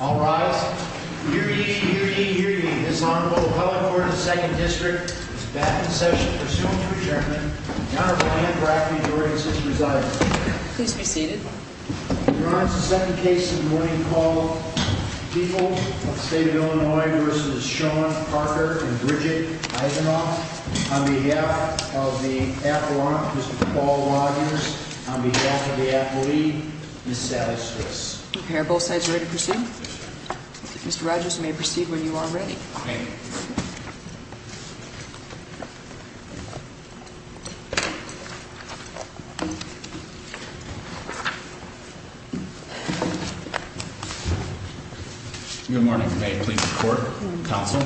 All rise. Hear ye, hear ye, hear ye. This Honorable Appellate Court of the Second District is back in session pursuant to adjournment. The Honorable Anne Brackley directs this residing. Please be seated. Your Honor, this is the second case in the morning called People of the State of Illinois v. Sean Parker and Bridget Eisenhoff on behalf of the affluent Mr. Paul Rogers on behalf of the affluent Ms. Sally Stritz. Are both sides ready to proceed? Yes, Your Honor. Mr. Rogers, you may proceed when you are ready. Thank you. Good morning. May I please report, counsel?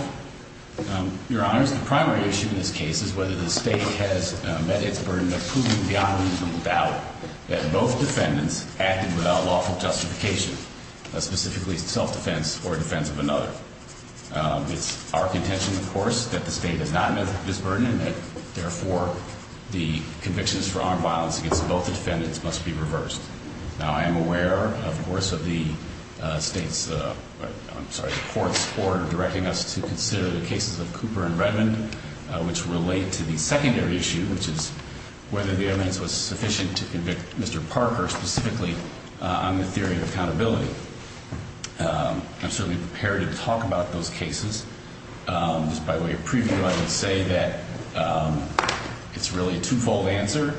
Your Honor, the primary issue in this case is whether the state has met its burden of proving beyond reasonable doubt that both defendants acted without lawful justification, specifically self-defense or defense of another. It's our contention, of course, that the state has not met this burden and therefore the convictions for armed violence against both defendants must be reversed. Now, I am aware, of course, of the court's order directing us to consider the cases of Cooper and Redmond, which relate to the secondary issue, which is whether the evidence was sufficient to convict Mr. Parker specifically on the theory of accountability. I'm certainly prepared to talk about those cases. Just by way of preview, I would say that it's really a twofold answer.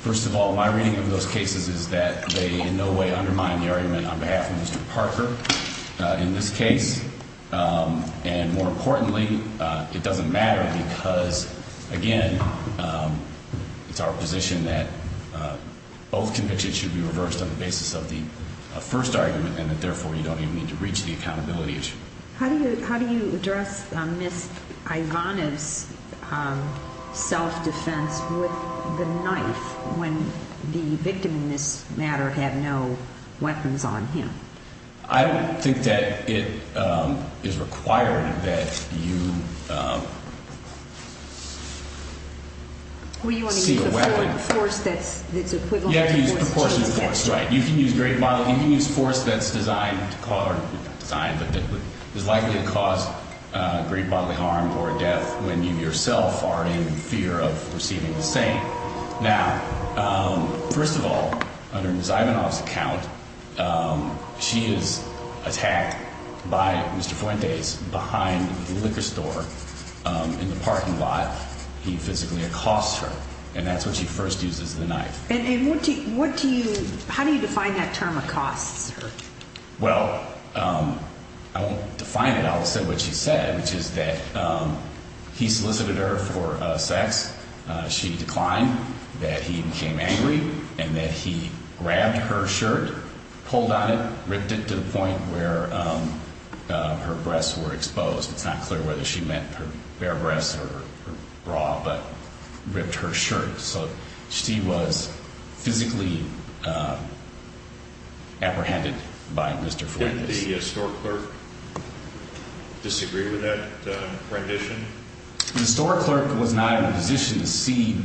First of all, my reading of those cases is that they in no way undermine the argument on behalf of Mr. Parker in this case. And more importantly, it doesn't matter because, again, it's our position that both convictions should be reversed on the basis of the first argument and that therefore you don't even need to reach the accountability issue. How do you address Ms. Ivanov's self-defense with the knife when the victim in this matter had no weapons on him? I don't think that it is required that you see a weapon. Well, you want to use a force that's equivalent to force. You have to use proportionate force, right. You can use force that's designed to cause, or not designed, but that is likely to cause great bodily harm or death when you yourself are in fear of receiving the same. Now, first of all, under Ms. Ivanov's account, she is attacked by Mr. Fuentes behind the liquor store in the parking lot. He physically accosts her, and that's when she first uses the knife. And what do you, how do you define that term, accosts her? Well, I won't define it. I'll just say what she said, which is that he solicited her for sex. She declined, that he became angry, and that he grabbed her shirt, pulled on it, ripped it to the point where her breasts were exposed. It's not clear whether she meant her bare breasts or her bra, but ripped her shirt. So she was physically apprehended by Mr. Fuentes. Didn't the store clerk disagree with that rendition? The store clerk was not in a position to see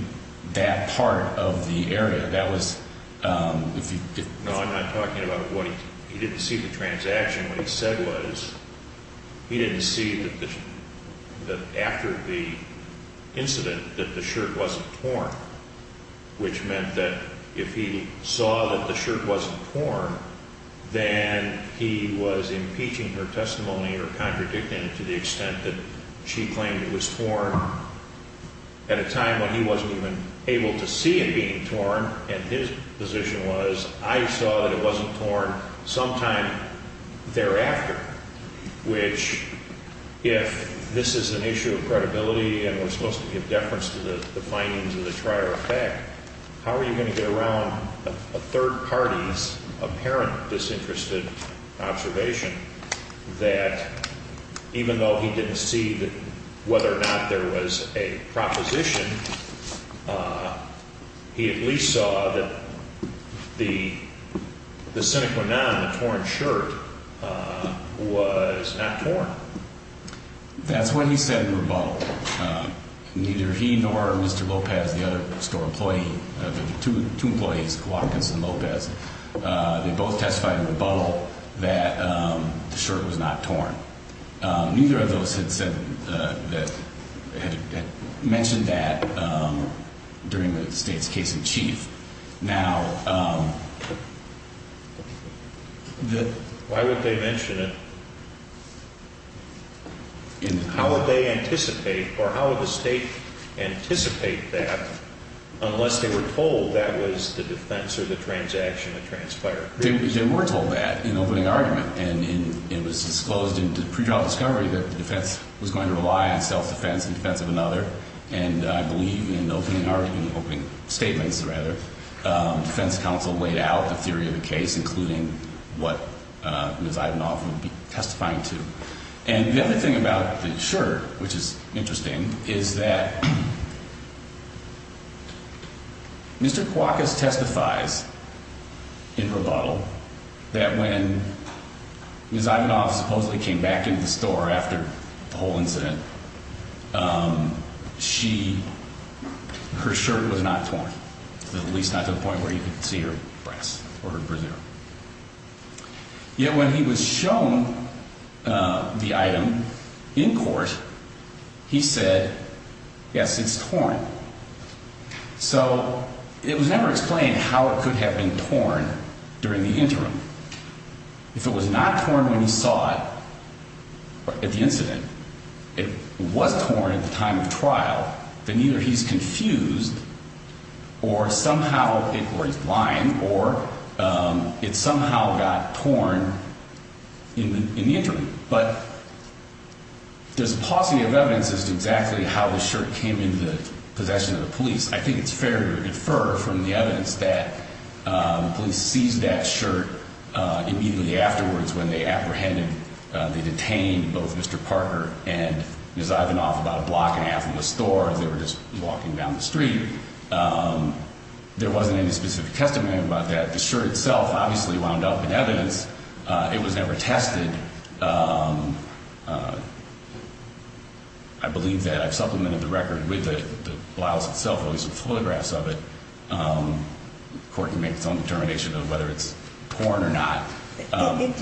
that part of the area. That was, if you could. No, I'm not talking about what he, he didn't see the transaction. What he said was he didn't see that after the incident that the shirt wasn't torn, which meant that if he saw that the shirt wasn't torn, then he was impeaching her testimony or contradicting it to the extent that she claimed it was torn at a time when he wasn't even able to see it being torn. And his position was, I saw that it wasn't torn sometime thereafter, which if this is an issue of credibility and we're supposed to give deference to the findings of this prior effect, how are you going to get around a third party's apparent disinterested observation that even though he didn't see whether or not there was a proposition, he at least saw that the sine qua non, the torn shirt, was not torn. That's what he said in rebuttal. Neither he nor Mr. Lopez, the other store employee, the two employees, Watkins and Lopez, they both testified in rebuttal that the shirt was not torn. Neither of those had mentioned that during the state's case in chief. Now, why would they mention it? How would they anticipate or how would the state anticipate that unless they were told that was the defense or the transaction that transpired? They were told that in opening argument. And it was disclosed in the pre-trial discovery that the defense was going to rely on self-defense in defense of another. And I believe in opening arguments, opening statements rather, defense counsel laid out the theory of the case, including what Ms. Ivanoff would be testifying to. And the other thing about the shirt, which is interesting, is that Mr. Kouakas testifies in rebuttal that when Ms. Ivanoff supposedly came back into the store after the whole incident, she, her shirt was not torn, at least not to the point where you could see her breasts or her brazier. Yet when he was shown the item in court, he said, yes, it's torn. So it was never explained how it could have been torn during the interim. If it was not torn when he saw it at the incident, it was torn at the time of trial, then either he's confused or somehow, or he's lying, or it somehow got torn in the interim. But there's a paucity of evidence as to exactly how the shirt came into the possession of the police. I think it's fair to infer from the evidence that the police seized that shirt immediately afterwards when they apprehended, they detained both Mr. Parker and Ms. Ivanoff about a block and a half from the store. They were just walking down the street. There wasn't any specific testimony about that. The shirt itself obviously wound up in evidence. It was never tested. I believe that I've supplemented the record with the blouse itself, at least with photographs of it. The court can make its own determination of whether it's torn or not. Isn't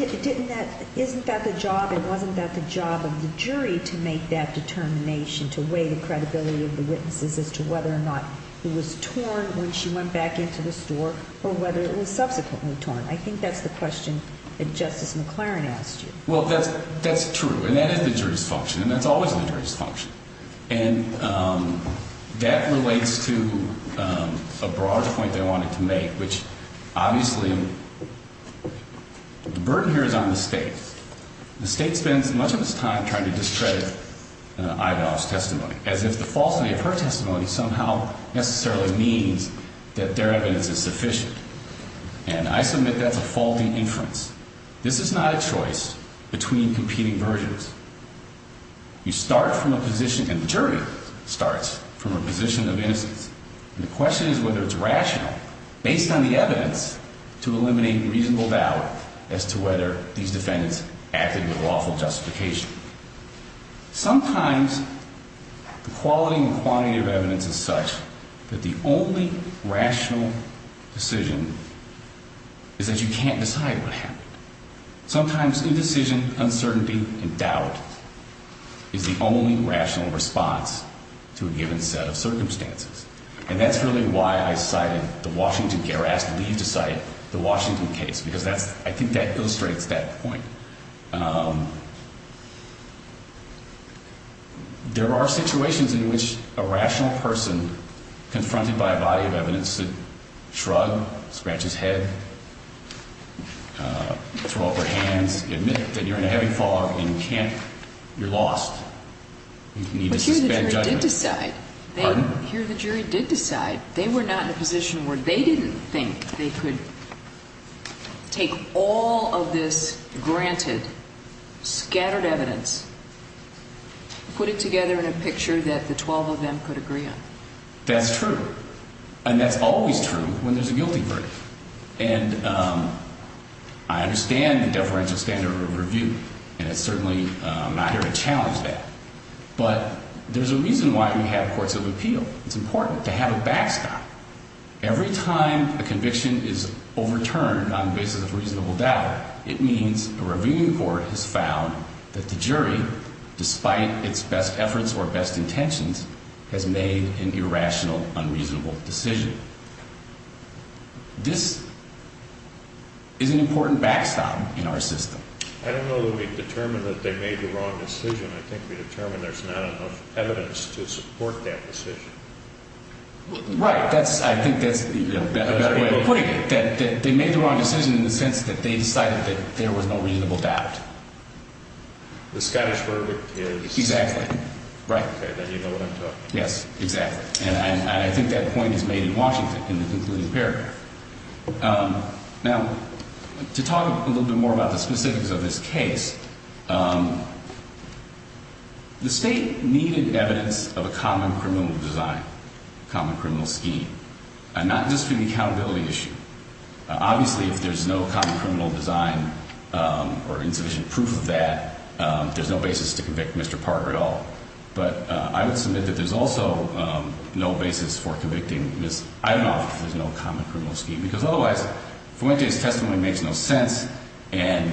that the job and wasn't that the job of the jury to make that determination, to weigh the credibility of the witnesses as to whether or not it was torn when she went back into the store or whether it was subsequently torn? I think that's the question that Justice McLaren asked you. Well, that's true, and that is the jury's function, and that's always the jury's function. And that relates to a broader point they wanted to make, which obviously the burden here is on the state. The state spends much of its time trying to discredit Ivanoff's testimony, as if the falsity of her testimony somehow necessarily means that their evidence is sufficient. And I submit that's a faulty inference. This is not a choice between competing versions. You start from a position, and the jury starts from a position of innocence, and the question is whether it's rational, based on the evidence, to eliminate reasonable doubt as to whether these defendants acted with lawful justification. Sometimes the quality and quantity of evidence is such that the only rational decision is that you can't decide what happened. Sometimes indecision, uncertainty, and doubt is the only rational response to a given set of circumstances. And that's really why I cited the Washington case, or asked Lee to cite the Washington case, because I think that illustrates that point. There are situations in which a rational person, confronted by a body of evidence, has to shrug, scratch his head, throw up her hands, admit that you're in a heavy fog and you can't, you're lost. You need to suspend judgment. But here the jury did decide. Pardon? Here the jury did decide. They were not in a position where they didn't think they could take all of this granted, scattered evidence, put it together in a picture that the 12 of them could agree on. That's true. And that's always true when there's a guilty verdict. And I understand the deferential standard of review, and it's certainly not here to challenge that. But there's a reason why we have courts of appeal. It's important to have a backstop. Every time a conviction is overturned on the basis of reasonable doubt, it means a reviewing court has found that the jury, despite its best efforts or best intentions, has made an irrational, unreasonable decision. This is an important backstop in our system. I don't know that we've determined that they made the wrong decision. I think we've determined there's not enough evidence to support that decision. Right. I think that's a better way of putting it. I think that they made the wrong decision in the sense that they decided that there was no reasonable doubt. The Scottish verdict is? Exactly. Right. Okay, then you know what I'm talking about. Yes, exactly. And I think that point is made in Washington in the concluding paragraph. Now, to talk a little bit more about the specifics of this case, the State needed evidence of a common criminal design, a common criminal scheme, not just for the accountability issue. Obviously, if there's no common criminal design or insufficient proof of that, there's no basis to convict Mr. Parker at all. But I would submit that there's also no basis for convicting Ms. Ivanoff if there's no common criminal scheme, because otherwise Fuentes' testimony makes no sense, and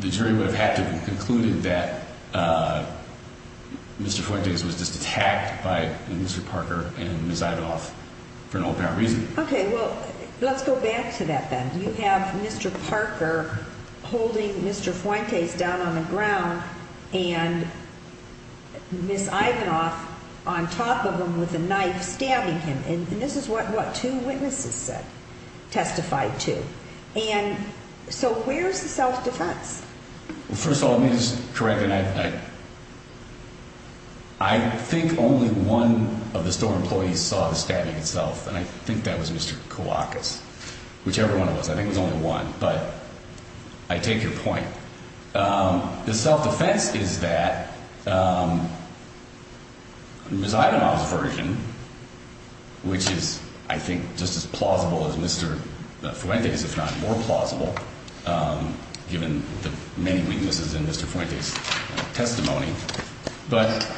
the jury would have had to have concluded that Mr. Fuentes was just attacked by Mr. Parker and Ms. Ivanoff for no apparent reason. Okay, well, let's go back to that then. You have Mr. Parker holding Mr. Fuentes down on the ground and Ms. Ivanoff on top of him with a knife stabbing him. And this is what two witnesses said, testified to. And so where's the self-defense? Well, first of all, let me just correct, and I think only one of the store employees saw the stabbing itself, and I think that was Mr. Kouakas, whichever one it was. I think it was only one, but I take your point. The self-defense is that Ms. Ivanoff's version, which is, I think, just as plausible as Mr. Fuentes', if not more plausible, given the many weaknesses in Mr. Fuentes' testimony, but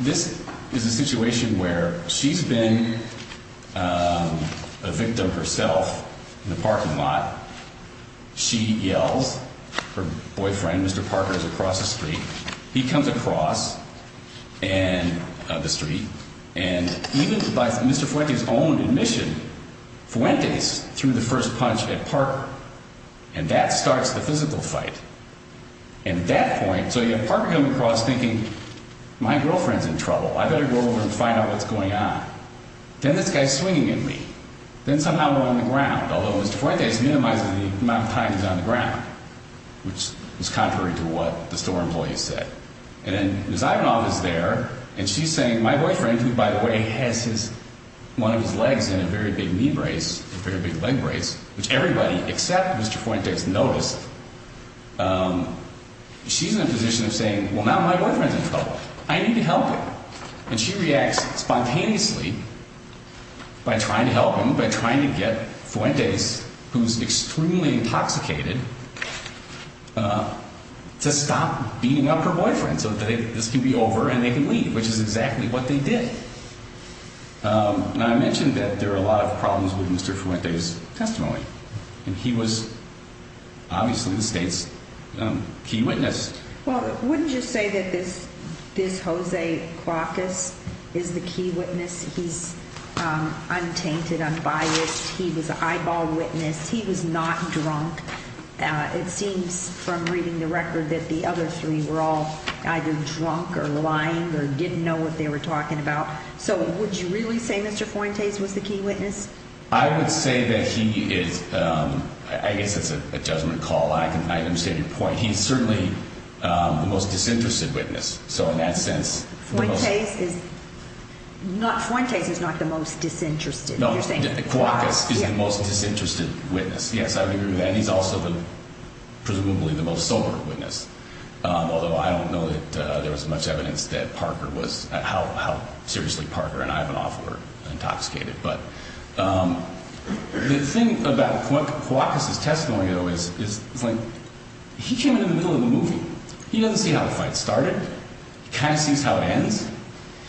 this is a situation where she's been a victim herself in the parking lot. She yells, her boyfriend, Mr. Parker, is across the street. He comes across the street, and even by Mr. Fuentes' own admission, Fuentes threw the first punch at Parker, and that starts the physical fight. And at that point, so you have Parker coming across thinking, my girlfriend's in trouble, I better go over and find out what's going on. Then this guy's swinging at me. Then somehow I'm on the ground, although Mr. Fuentes minimizes the amount of time he's on the ground, which is contrary to what the store employee said. And then Ms. Ivanoff is there, and she's saying, my boyfriend, who, by the way, has one of his legs in a very big knee brace, a very big leg brace, which everybody except Mr. Fuentes noticed, she's in a position of saying, well, now my boyfriend's in trouble. I need to help him, and she reacts spontaneously by trying to help him, by trying to get Fuentes, who's extremely intoxicated, to stop beating up her boyfriend so that this can be over and they can leave, which is exactly what they did. And I mentioned that there are a lot of problems with Mr. Fuentes' testimony, and he was obviously the state's key witness. Well, wouldn't you say that this Jose Cuauhtas is the key witness? He's untainted, unbiased. He was an eyeball witness. He was not drunk. It seems from reading the record that the other three were all either drunk or lying or didn't know what they were talking about. So would you really say Mr. Fuentes was the key witness? I would say that he is. I guess that's a judgment call. I understand your point. He's certainly the most disinterested witness. So in that sense, the most – Fuentes is not the most disinterested. No, Cuauhtas is the most disinterested witness. Yes, I would agree with that. He's also presumably the most sober witness, although I don't know that there was much evidence that Parker was – how seriously Parker and Ivanov were intoxicated. But the thing about Cuauhtas' testimony, though, is he came in the middle of the movie. He doesn't see how the fight started. He kind of sees how it ends.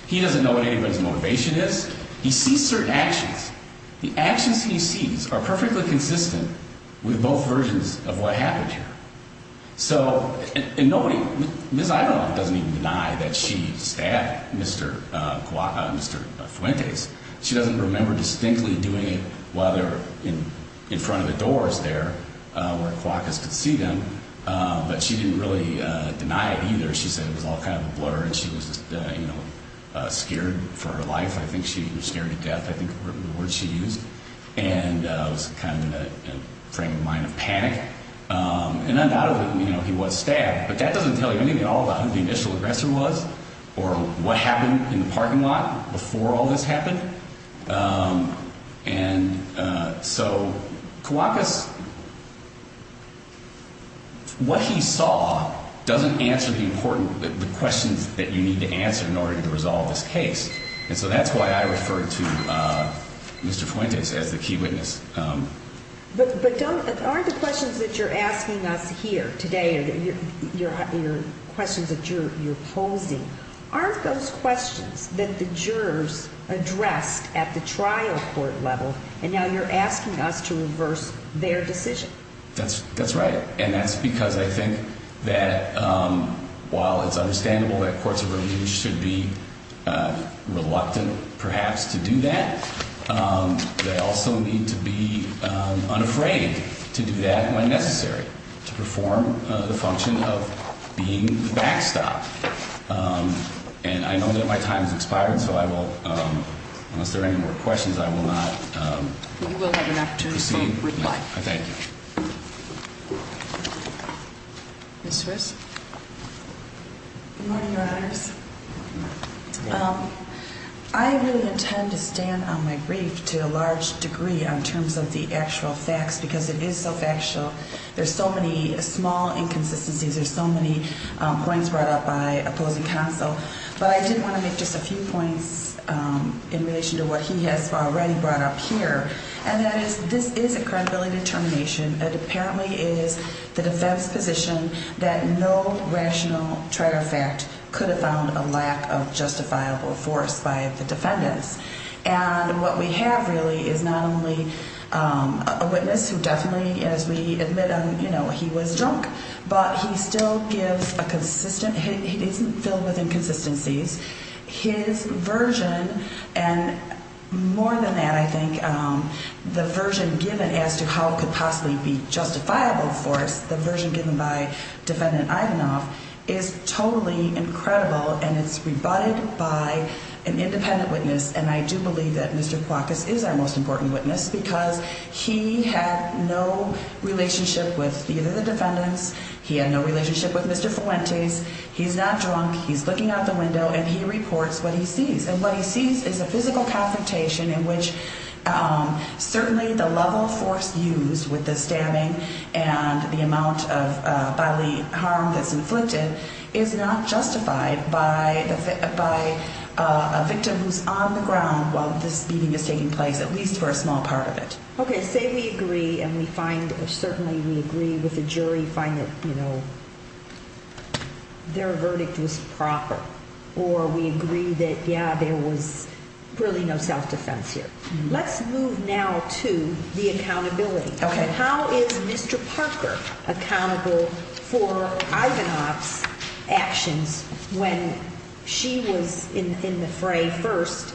He doesn't know what anybody's motivation is. He sees certain actions. The actions he sees are perfectly consistent with both versions of what happened here. So – and nobody – Ms. Ivanov doesn't even deny that she stabbed Mr. Fuentes. She doesn't remember distinctly doing it while they're in front of the doors there where Cuauhtas could see them. But she didn't really deny it either. She said it was all kind of a blur and she was just, you know, scared for her life. I think she was scared to death, I think were the words she used, and was kind of in a frame of mind of panic. And undoubtedly, you know, he was stabbed, but that doesn't tell you anything at all about who the initial aggressor was or what happened in the parking lot before all this happened. And so Cuauhtas – what he saw doesn't answer the important – the questions that you need to answer in order to resolve this case. And so that's why I referred to Mr. Fuentes as the key witness. But don't – aren't the questions that you're asking us here today, your questions that you're posing, aren't those questions that the jurors addressed at the trial court level and now you're asking us to reverse their decision? That's right. And that's because I think that while it's understandable that courts of review should be reluctant perhaps to do that, they also need to be unafraid to do that when necessary, to perform the function of being the backstop. And I know that my time has expired, so I will – unless there are any more questions, I will not proceed. You will have an opportunity to reply. Thank you. Ms. Riz? Good morning, Your Honors. I really intend to stand on my brief to a large degree in terms of the actual facts because it is so factual. There's so many small inconsistencies. There's so many points brought up by opposing counsel. But I did want to make just a few points in relation to what he has already brought up here, and that is this is a credibility determination. It apparently is the defense's position that no rational traitor fact could have found a lack of justifiable force by the defendants. And what we have really is not only a witness who definitely, as we admit, he was drunk, but he still gives a consistent – he isn't filled with inconsistencies. His version, and more than that, I think, the version given as to how it could possibly be justifiable force, the version given by Defendant Ivanov, is totally incredible. And it's rebutted by an independent witness. And I do believe that Mr. Kwakis is our most important witness because he had no relationship with either the defendants. He had no relationship with Mr. Fuentes. He's not drunk. He's looking out the window, and he reports what he sees. And what he sees is a physical confrontation in which certainly the level of force used with the stabbing and the amount of bodily harm that's inflicted is not justified by a victim who's on the ground while this beating is taking place, at least for a small part of it. Okay, say we agree and we find – certainly we agree with the jury, find that their verdict was proper, or we agree that, yeah, there was really no self-defense here. Let's move now to the accountability. Okay. And how is Mr. Parker accountable for Ivanov's actions when she was in the fray first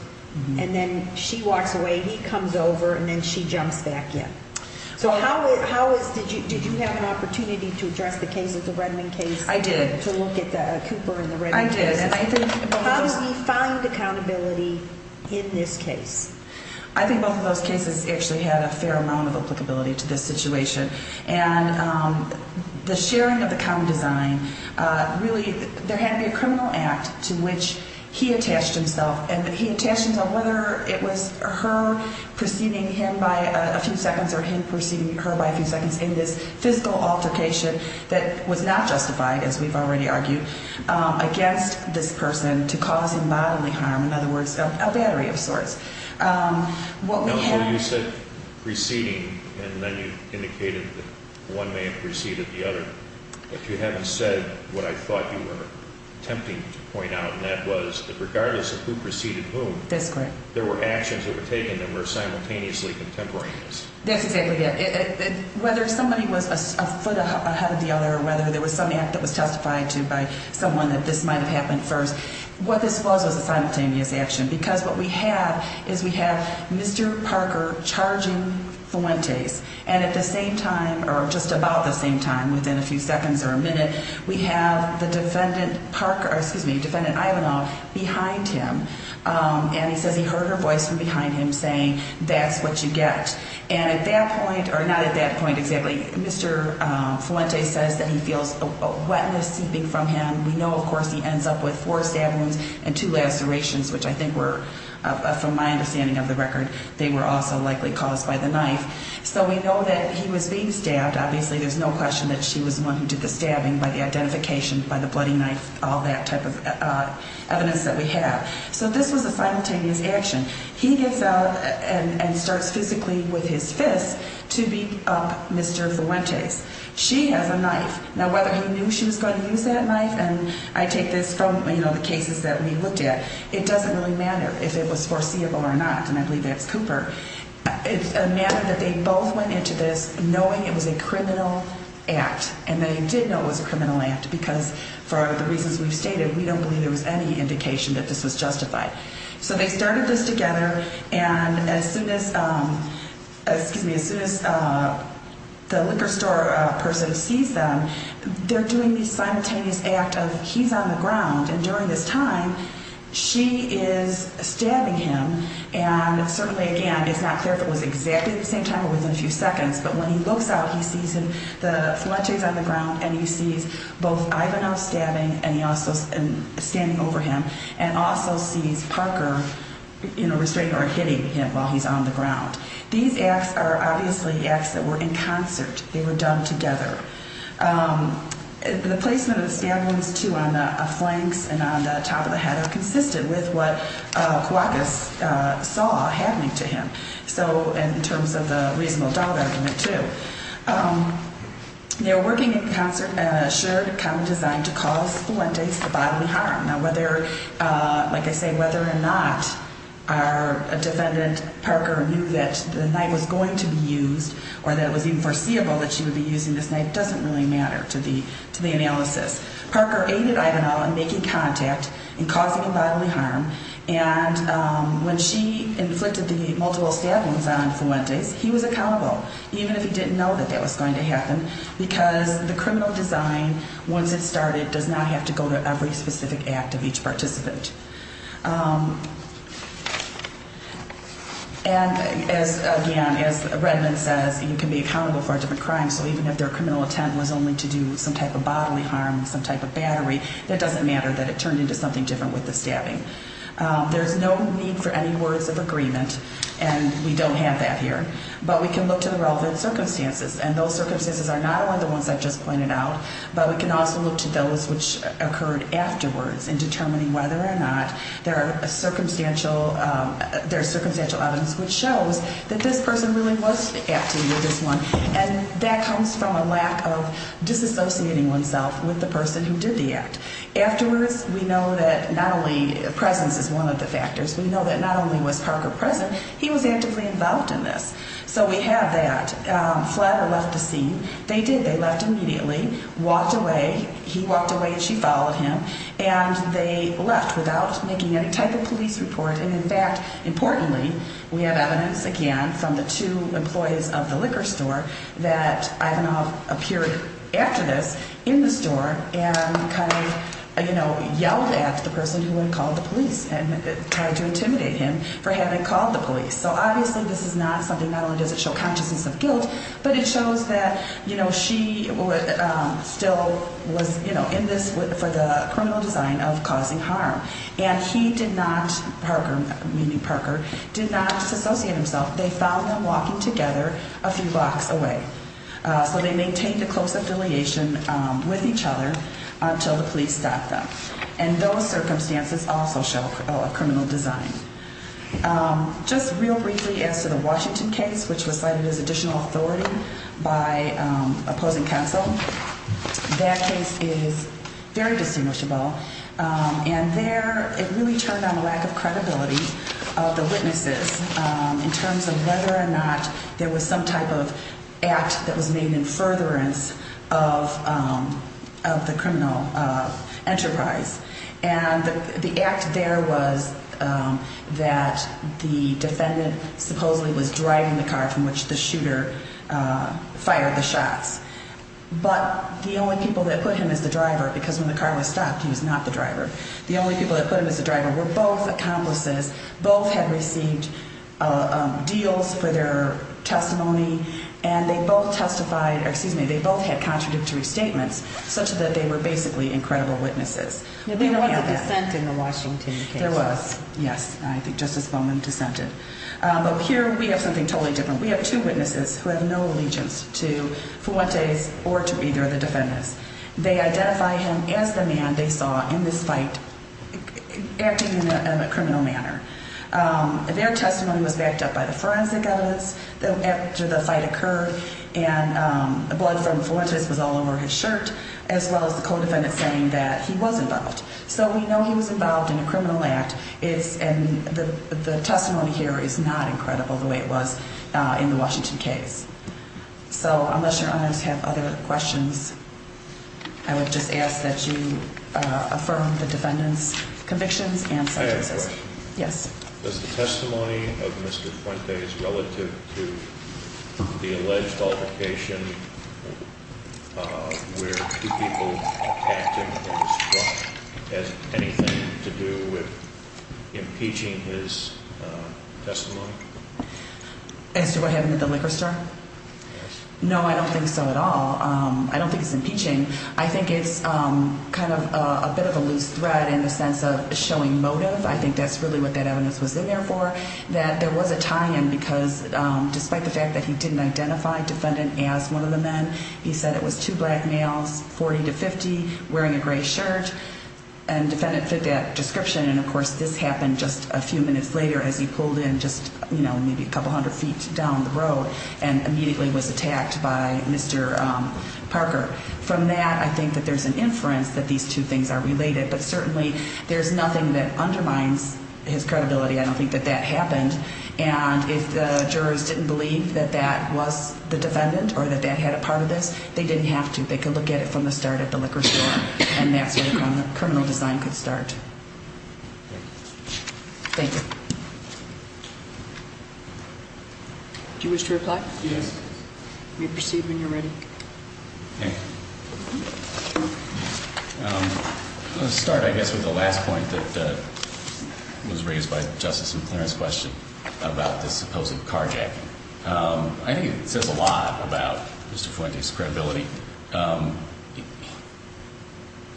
and then she walks away, he comes over, and then she jumps back in? So how is – did you have an opportunity to address the case, the Redmond case? I did. To look at Cooper and the Redmond case? I did. How does he find accountability in this case? I think both of those cases actually had a fair amount of applicability to this situation. And the sharing of the common design really – there had to be a criminal act to which he attached himself, and he attached himself whether it was her preceding him by a few seconds or him preceding her by a few seconds in this physical altercation that was not justified, as we've already argued, against this person to cause him bodily harm, in other words, a battery of sorts. You said preceding, and then you indicated that one may have preceded the other. If you haven't said what I thought you were attempting to point out, and that was that regardless of who preceded whom, there were actions that were taken that were simultaneously contemporaneous. That's exactly it. Whether somebody was a foot ahead of the other or whether there was some act that was testified to by someone that this might have happened first, what this was was a simultaneous action. Because what we have is we have Mr. Parker charging Fuentes, and at the same time – or just about the same time, within a few seconds or a minute, we have the defendant Parker – or, excuse me, defendant Ivanov behind him. And he says he heard her voice from behind him saying, that's what you get. And at that point – or not at that point exactly – Mr. Fuentes says that he feels a wetness seeping from him. We know, of course, he ends up with four stab wounds and two lacerations, which I think were, from my understanding of the record, they were also likely caused by the knife. So we know that he was being stabbed. Obviously, there's no question that she was the one who did the stabbing by the identification, by the bloody knife, all that type of evidence that we have. So this was a simultaneous action. He gets out and starts physically with his fist to beat up Mr. Fuentes. She has a knife. Now, whether he knew she was going to use that knife – and I take this from, you know, the cases that we looked at – it doesn't really matter if it was foreseeable or not. And I believe that's Cooper. It's a matter that they both went into this knowing it was a criminal act. And they did know it was a criminal act because, for the reasons we've stated, we don't believe there was any indication that this was justified. So they started this together. And as soon as – excuse me – as soon as the liquor store person sees them, they're doing this simultaneous act of he's on the ground. And during this time, she is stabbing him. And certainly, again, it's not clear if it was exactly at the same time or within a few seconds. But when he looks out, he sees the Fuentes on the ground, and he sees both Ivanel stabbing and standing over him, and also sees Parker, you know, restraining or hitting him while he's on the ground. These acts are obviously acts that were in concert. They were done together. The placement of the stab wounds, too, on the flanks and on the top of the head are consistent with what Cuauhtas saw happening to him. So – and in terms of the reasonable doubt argument, too. They were working in concert in a shared common design to cause Fuentes the bodily harm. Now, whether – like I say, whether or not our defendant, Parker, knew that the knife was going to be used or that it was even foreseeable that she would be using this knife doesn't really matter to the analysis. Parker aided Ivanel in making contact and causing the bodily harm. And when she inflicted the multiple stab wounds on Fuentes, he was accountable, even if he didn't know that that was going to happen, because the criminal design, once it started, does not have to go to every specific act of each participant. And as – again, as Redmond says, you can be accountable for a different crime, so even if their criminal intent was only to do some type of bodily harm, some type of battery, it doesn't matter that it turned into something different with the stabbing. There's no need for any words of agreement, and we don't have that here. But we can look to the relevant circumstances, and those circumstances are not only the ones I've just pointed out, but we can also look to those which occurred afterwards in determining whether or not there are circumstantial – there's circumstantial evidence which shows that this person really was acting with this one, and that comes from a lack of disassociating oneself with the person who did the act. Afterwards, we know that not only – presence is one of the factors – we know that not only was Parker present, he was actively involved in this. So we have that. Flatter left the scene. They did. They left immediately. Walked away. He walked away and she followed him. And they left without making any type of police report. And in fact, importantly, we have evidence, again, from the two employees of the liquor store that Ivanov appeared after this in the store and kind of yelled at the person who had called the police and tried to intimidate him for having called the police. So obviously this is not something – not only does it show consciousness of guilt, but it shows that she still was in this for the criminal design of causing harm. And he did not – Parker, meaning Parker – did not disassociate himself. They found them walking together a few blocks away. So they maintained a close affiliation with each other until the police stopped them. And those circumstances also show a criminal design. Just real briefly as to the Washington case, which was cited as additional authority by opposing counsel, that case is very distinguishable. And there it really turned on a lack of credibility of the witnesses in terms of whether or not there was some type of act that was made in furtherance of the criminal enterprise. And the act there was that the defendant supposedly was driving the car from which the shooter fired the shots. But the only people that put him as the driver – because when the car was stopped, he was not the driver – the only people that put him as the driver were both accomplices. Both had received deals for their testimony, and they both testified – or excuse me, they both had contradictory statements such that they were basically incredible witnesses. There was a dissent in the Washington case. There was, yes. I think Justice Bowman dissented. But here we have something totally different. We have two witnesses who have no allegiance to Fuentes or to either of the defendants. They identify him as the man they saw in this fight acting in a criminal manner. Their testimony was backed up by the forensic evidence after the fight occurred, and the blood from Fuentes was all over his shirt, as well as the co-defendant saying that he was involved. So we know he was involved in a criminal act, and the testimony here is not incredible the way it was in the Washington case. So unless your honors have other questions, I would just ask that you affirm the defendant's convictions and sentences. I have a question. Yes. Does the testimony of Mr. Fuentes relative to the alleged altercation where two people attacked him has anything to do with impeaching his testimony? As to what happened at the liquor store? Yes. No, I don't think so at all. I don't think it's impeaching. I think it's kind of a bit of a loose thread in the sense of showing motive. I think that's really what that evidence was in there for, that there was a tie-in because despite the fact that he didn't identify defendant as one of the men, he said it was two black males, 40 to 50, wearing a gray shirt, and defendant fit that description. And, of course, this happened just a few minutes later as he pulled in just, you know, maybe a couple hundred feet down the road and immediately was attacked by Mr. Parker. From that, I think that there's an inference that these two things are related, but certainly there's nothing that undermines his credibility. I don't think that that happened. And if the jurors didn't believe that that was the defendant or that that had a part of this, they didn't have to. They could look at it from the start at the liquor store, and that's where the criminal design could start. Thank you. Thank you. Do you wish to reply? Yes. You may proceed when you're ready. Thank you. I'll start, I guess, with the last point that was raised by Justice McLaren's question about the supposed carjacking. I think it says a lot about Mr. Fuente's credibility.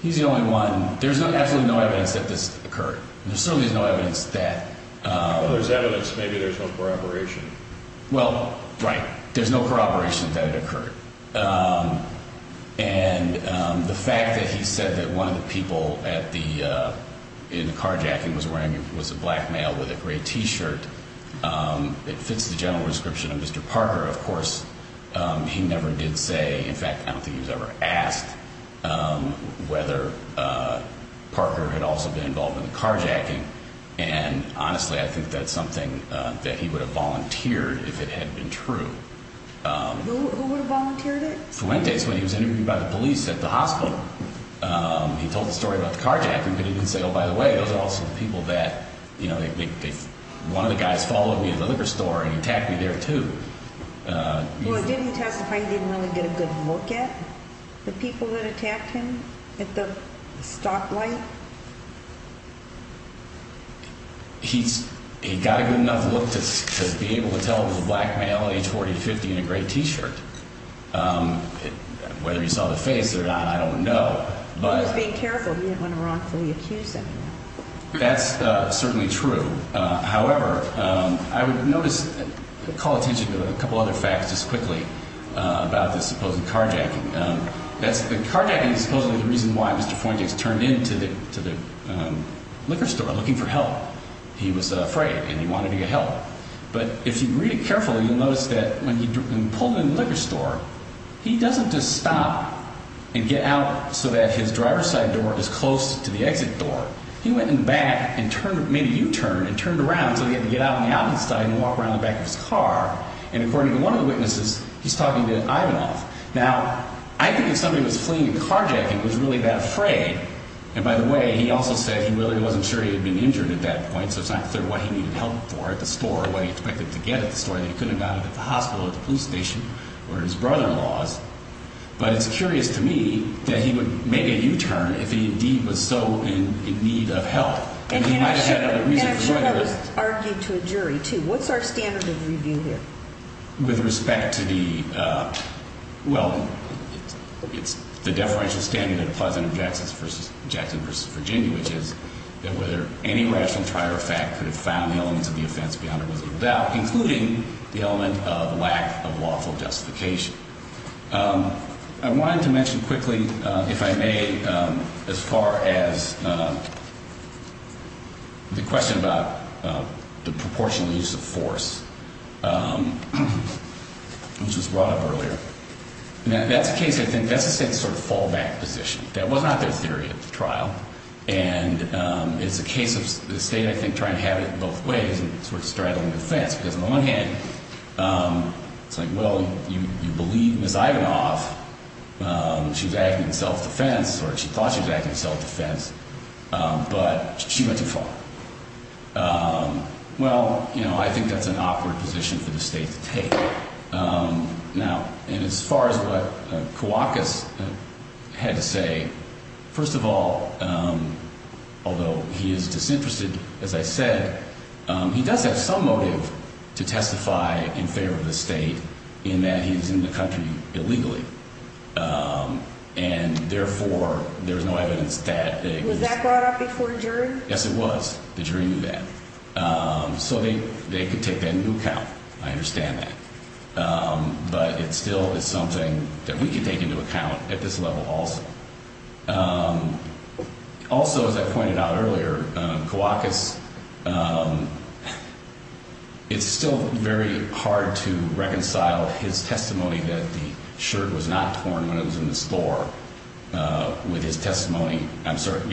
He's the only one. There's absolutely no evidence that this occurred. There certainly is no evidence that. If there's evidence, maybe there's no corroboration. Well, right, there's no corroboration that it occurred. And the fact that he said that one of the people in the carjacking was a black male with a gray T-shirt, it fits the general description of Mr. Parker. Of course, he never did say, in fact, I don't think he was ever asked whether Parker had also been involved in the carjacking. And honestly, I think that's something that he would have volunteered if it had been true. Who would have volunteered it? Fuente's when he was interviewed by the police at the hospital. He told the story about the carjacking, but he didn't say, oh, by the way, those are also the people that, you know, one of the guys followed me to the liquor store and he attacked me there, too. He didn't really get a good look at the people that attacked him at the stoplight. He's he got a good enough look to be able to tell the black male age 40, 50 and a great T-shirt. Whether you saw the face or not, I don't know. But being careful, you don't want to wrongfully accuse him. That's certainly true. However, I would notice, call attention to a couple other facts just quickly about this supposed carjacking. That's the carjacking supposedly the reason why Mr. Fuente turned into the liquor store looking for help. He was afraid and he wanted to get help. But if you read it carefully, you'll notice that when he pulled in the liquor store, he doesn't just stop and get out so that his driver's side door is close to the exit door. He went in the back and made a U-turn and turned around so he had to get out on the outside and walk around the back of his car. And according to one of the witnesses, he's talking to Ivanov. Now, I think if somebody was fleeing a carjacking, he was really that afraid. And by the way, he also said he really wasn't sure he had been injured at that point. So it's not clear what he needed help for at the store or what he expected to get at the store. He couldn't have gotten it at the hospital or the police station or his brother-in-law's. But it's curious to me that he would make a U-turn if he indeed was so in need of help. And he might have had a reason for doing it. And I'm sure that was argued to a jury, too. What's our standard of review here? With respect to the – well, it's the deferential standard of pleasant objections versus – Jackson v. Virginia, which is that whether any rational prior effect could have found the elements of the offense beyond a reasonable doubt, including the element of lack of lawful justification. I wanted to mention quickly, if I may, as far as the question about the proportional use of force, which was brought up earlier. Now, that's a case – I think that's a state's sort of fallback position. And it's a case of the state, I think, trying to have it both ways and sort of straddling the fence. Because on the one hand, it's like, well, you believe Ms. Ivanoff. She's acting in self-defense, or she thought she was acting in self-defense, but she went too far. Well, you know, I think that's an awkward position for the state to take. Now, and as far as what Kouakis had to say, first of all, although he is disinterested, as I said, he does have some motive to testify in favor of the state in that he's in the country illegally. And therefore, there's no evidence that they – Was that brought up before the jury? Yes, it was. The jury knew that. So they could take that into account. I understand that. But it still is something that we can take into account at this level also. Also, as I pointed out earlier, Kouakis – it's still very hard to reconcile his testimony that the shirt was not torn when it was in the store with his testimony – Isn't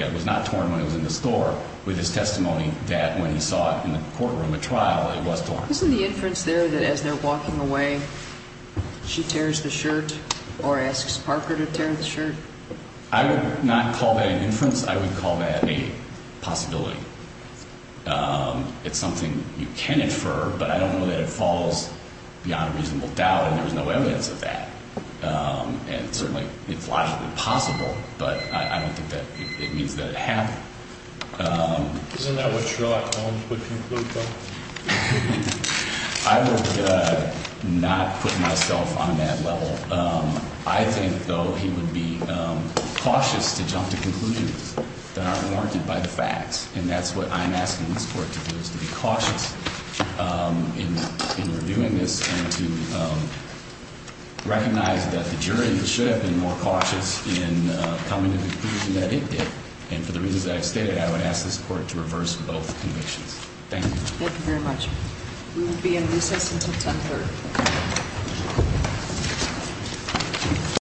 the inference there that as they're walking away, she tears the shirt or asks Parker to tear the shirt? I would not call that an inference. I would call that a possibility. It's something you can infer, but I don't know that it falls beyond a reasonable doubt, and there's no evidence of that. And certainly it's logically possible, but I don't think that it means that it happened. Isn't that what Sherlock Holmes would conclude, though? I would not put myself on that level. I think, though, he would be cautious to jump to conclusions that aren't warranted by the facts. And that's what I'm asking this Court to do, is to be cautious in reviewing this and to recognize that the jury should have been more cautious in coming to the conclusion that it did. And for the reasons that I've stated, I would ask this Court to reverse both convictions. Thank you. Thank you very much. We will be in recess until 10-3.